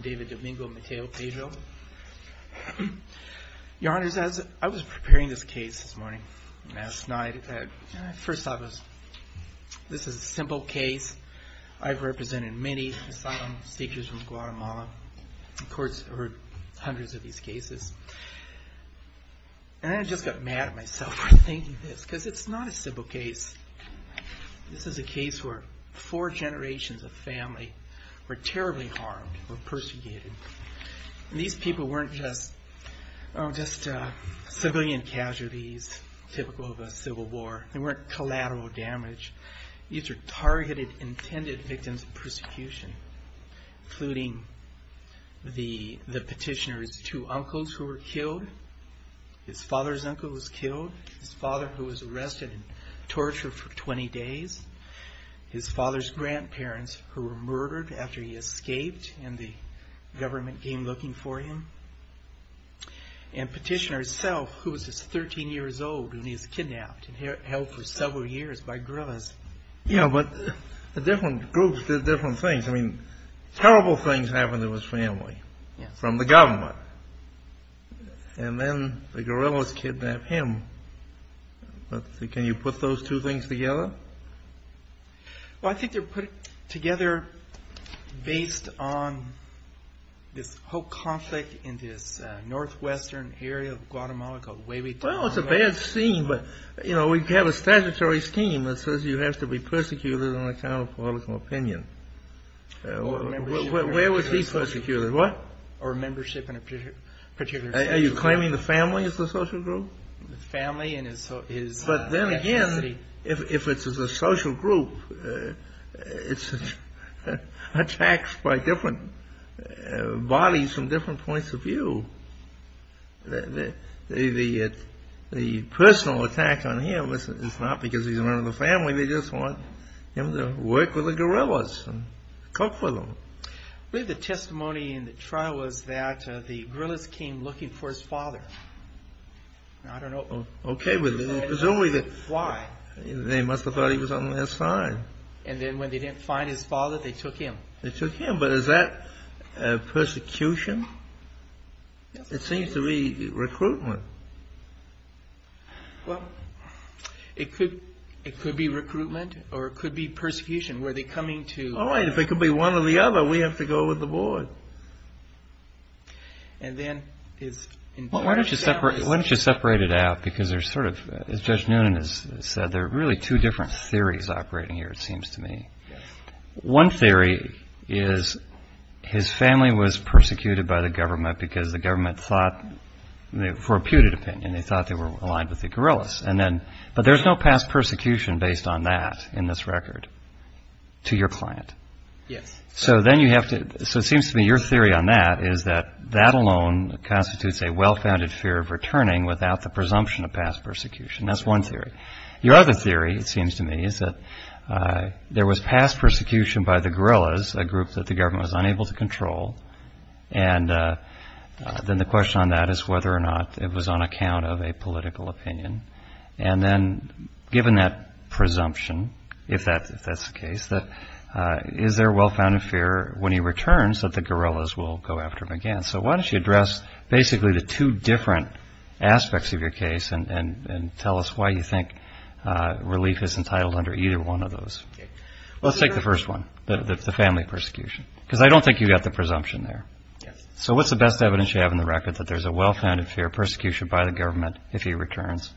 David Domingo, Mateo-Pedro. Your Honor, I was preparing this case this morning and last night. First off, this is a simple case. I've represented many asylum seekers from Guatemala. Of course, I've heard hundreds of these cases. And I just got mad at myself for thinking this, because it's not a simple case. This is a case where four generations of family were terribly harmed, were persecuted. These people weren't just civilian casualties, typical of a civil war. They weren't collateral damage. These are targeted, intended victims of persecution, including the petitioner's two uncles who were killed, his father's uncle was killed, his father who was arrested and tortured for 20 days, his father's grandparents who were murdered after he escaped in the government came looking for him. And petitioner himself, who was just 13 years old when he was kidnapped and held for several years by guerrillas. Yeah, but the different groups did different things. I mean, terrible things happened to his family from the government. And then the guerrillas kidnapped him. But can you put those two things together? Well, I think they're put together based on this whole conflict in this northwestern area of Guatemala called Huevitanga. Well, it's a bad scene, but, you know, we have a statutory scheme that says you have to be persecuted on account of political opinion. Where was he persecuted? What? Or membership in a particular social group. Are you claiming the family as the social group? The family and his ethnicity. But then again, if it's a social group, it's attacks by different bodies from different points of view. The personal attack on him is not because he's a member of the family. They just want him to work with the guerrillas and cook for them. I believe the testimony in the trial was that the guerrillas came looking for his father. I don't know. OK, but presumably they must have thought he was on their side. And then when they didn't find his father, they took him. They took him. But is that persecution? It seems to be recruitment. Well, it could be recruitment or it could be persecution. Were they coming to... All right, if it could be one or the other, we have to go with the board. And then... Why don't you separate it out? Because there's sort of, as Judge Noonan has said, there are really two different theories operating here, it seems to me. One theory is his family was persecuted by the government because the government thought, for a putrid opinion, they thought they were aligned with the guerrillas. But there's no past persecution based on that in this record to your client. Yes. So it seems to me your theory on that is that that alone constitutes a well-founded fear of returning without the presumption of past persecution. That's one theory. Your other theory, it seems to me, is that there was past persecution by the guerrillas, a group that the government was unable to control. And then the question on that is whether or not it was on account of a political opinion. And then given that presumption, if that's the case, is there a well-founded fear when he returns that the guerrillas will go after him again? So why don't you address basically the two different aspects of your case and tell us why you think relief is entitled under either one of those? Let's take the first one, the family persecution, because I don't think you've got the presumption there. So what's the best evidence you have in the record that there's a well-founded fear of persecution by the government if he returns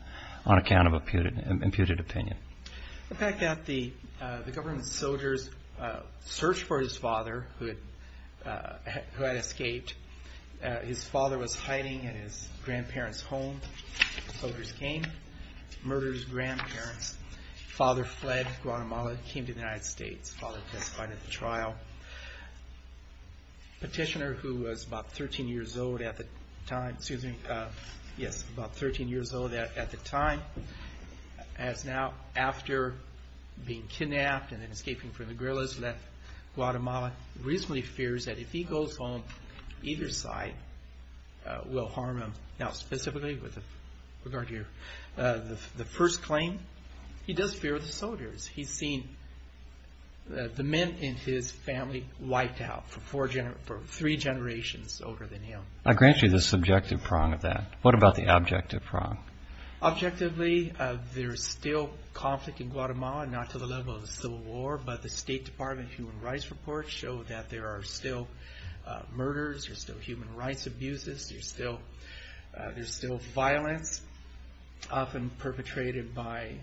on account of an imputed opinion? In fact, the government soldiers searched for his father who had escaped. His father was hiding in his grandparents' home. The soldiers came, murdered his grandparents. Father fled Guatemala, came to the United States. Father testified at the trial. Petitioner who was about 13 years old at the time, excuse me, yes, about 13 years old at the time, has now, after being kidnapped and then escaping from the guerrillas, left Guatemala. Reasonably fears that if he goes home, either side will harm him. Now specifically with regard to the first claim, he does fear the soldiers. He's seen the men in his family wiped out for three generations older than him. I grant you the subjective prong of that. What about the objective prong? Objectively, there's still conflict in Guatemala, not to the level of the Civil War, but the State Department Human Rights Report showed that there are still murders. There's still human rights abuses. There's still violence often perpetrated by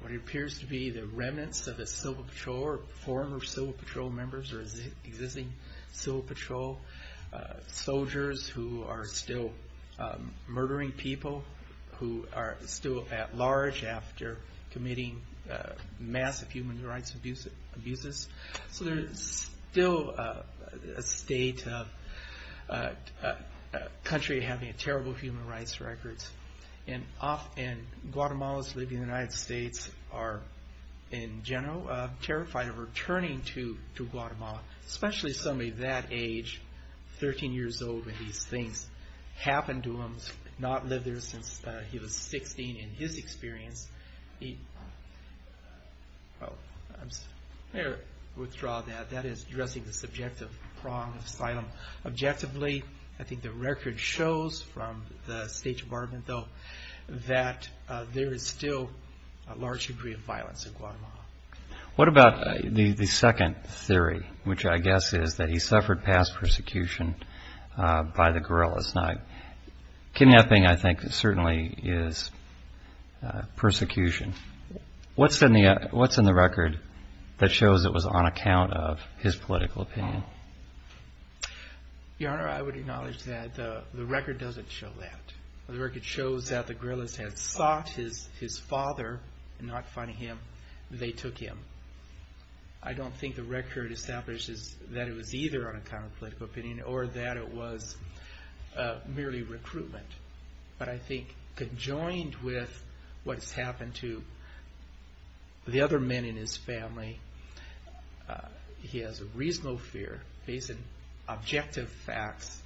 what appears to be the remnants of a civil patrol or former civil patrol members or existing civil patrol soldiers who are still murdering people who are still at large after committing massive human rights abuses. So there's still a state of country having terrible human rights records. And often, Guatemalans living in the United States are, in general, terrified of returning to Guatemala, especially somebody that age, 13 years old, when these things happen to them, not lived there since he was 16 in his experience. I'm going to withdraw that. That is addressing the subjective prong of asylum. Objectively, I think the record shows from the State Department, though, that there is still a large degree of violence in Guatemala. What about the second theory, which I guess is that he suffered past persecution by the guerrillas? Kidnapping, I think, certainly is persecution. What's in the record that shows it was on account of his political opinion? Your Honor, I would acknowledge that the record doesn't show that. The record shows that the guerrillas had sought his father and not find him. They took him. I don't think the record establishes that it was either on account of political opinion or that it was merely recruitment. But I think, conjoined with what's happened to the other men in his family, he has a reasonable fear, based on objective facts,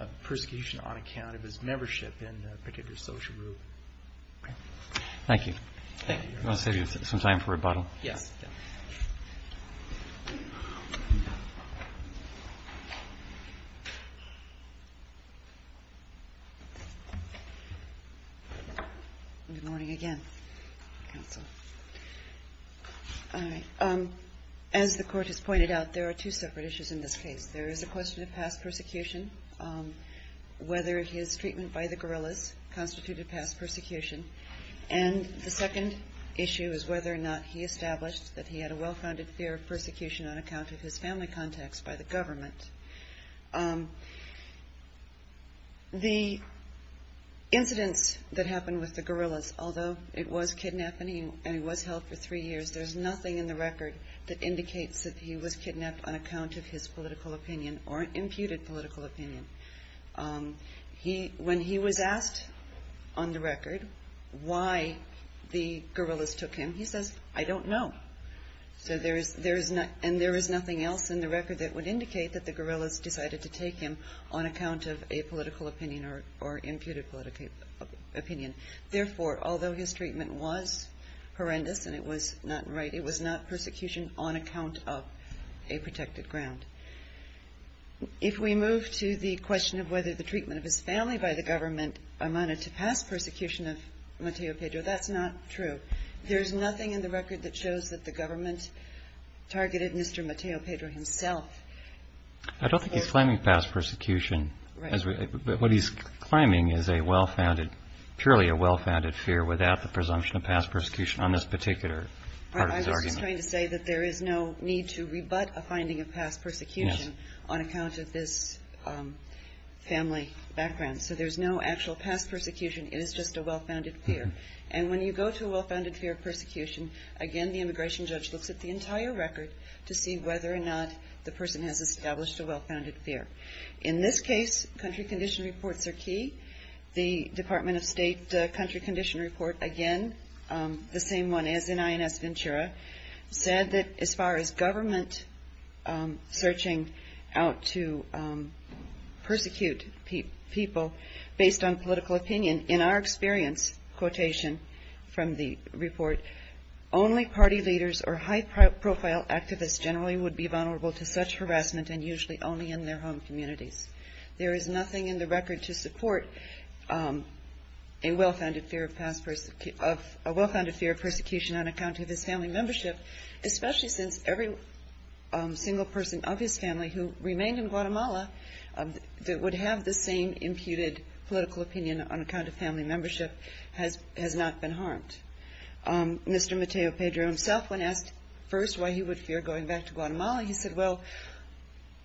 of persecution on account of his membership in a particular social group. Thank you. I'll save you some time for rebuttal. Yes. Good morning again, Counsel. All right. As the Court has pointed out, there are two separate issues in this case. There is a question of past persecution, whether his treatment by the guerrillas constituted past persecution. And the second issue is whether or not he established that he had a well-founded fear of persecution on account of his family contacts by the government. The incidents that happened with the guerrillas, although it was kidnapping and he was held for three years, there's nothing in the record that indicates that he was kidnapped on account of his political opinion or imputed political opinion. When he was asked on the record why the guerrillas took him, he says, I don't know. And there is nothing else in the record that would indicate that the guerrillas decided to take him on account of a political opinion or imputed political opinion. Therefore, although his treatment was horrendous and it was not right, it was not persecution on account of a protected ground. If we move to the question of whether the treatment of his family by the government amounted to past persecution of Mateo Pedro, that's not true. There's nothing in the record that shows that the government targeted Mr. Mateo Pedro himself. I don't think he's claiming past persecution. What he's claiming is a well-founded, purely a well-founded fear without the presumption of past persecution on this particular part of his argument. I was just trying to say that there is no need to rebut a finding of past persecution on account of this family background. So there's no actual past persecution. It is just a well-founded fear. And when you go to a well-founded fear of persecution, again, the immigration judge looks at the entire record to see whether or not the person has established a well-founded fear. In this case, country condition reports are key. The Department of State country condition report, again, the same one as in INS Ventura, said that as far as government searching out to persecute people based on political opinion, in our experience, quotation from the report, only party leaders or high-profile activists generally would be vulnerable to such harassment and usually only in their home communities. There is nothing in the record to support a well-founded fear of persecution on account of his family membership, especially since every single person of his family who remained in Guatemala that would have the same imputed political opinion on account of family membership has not been harmed. Mr. Mateo Pedro himself, when asked first why he would fear going back to Guatemala, he said, well,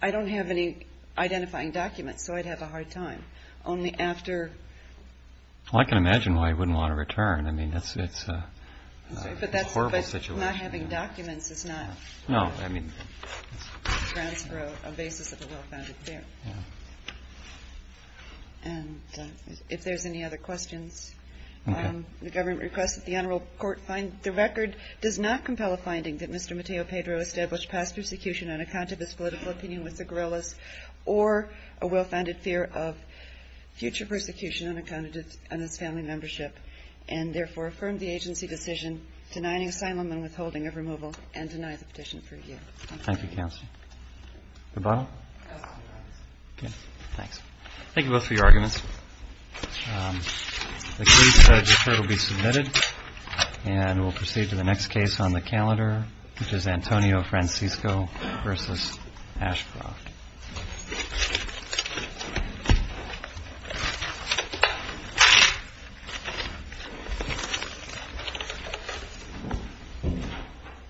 I don't have any identifying documents, so I'd have a hard time. Only after... Well, I can imagine why he wouldn't want to return. I mean, it's a horrible situation. But not having documents is not... No, I mean... Grants for a basis of a well-founded fear. Yeah. And if there's any other questions... Okay. The government requests that the Honorable Court find the record does not compel a finding that Mr. Mateo Pedro established past persecution on account of his political opinion with the guerrillas or a well-founded fear of future persecution on account of his family membership and therefore affirm the agency decision denying asylum and withholding of removal and deny the petition for review. Thank you, Counsel. The bottom? Okay, thanks. Thank you both for your arguments. The case record will be submitted, and we'll proceed to the next case on the calendar, which is Antonio Francisco v. Ashcroft. Thank you.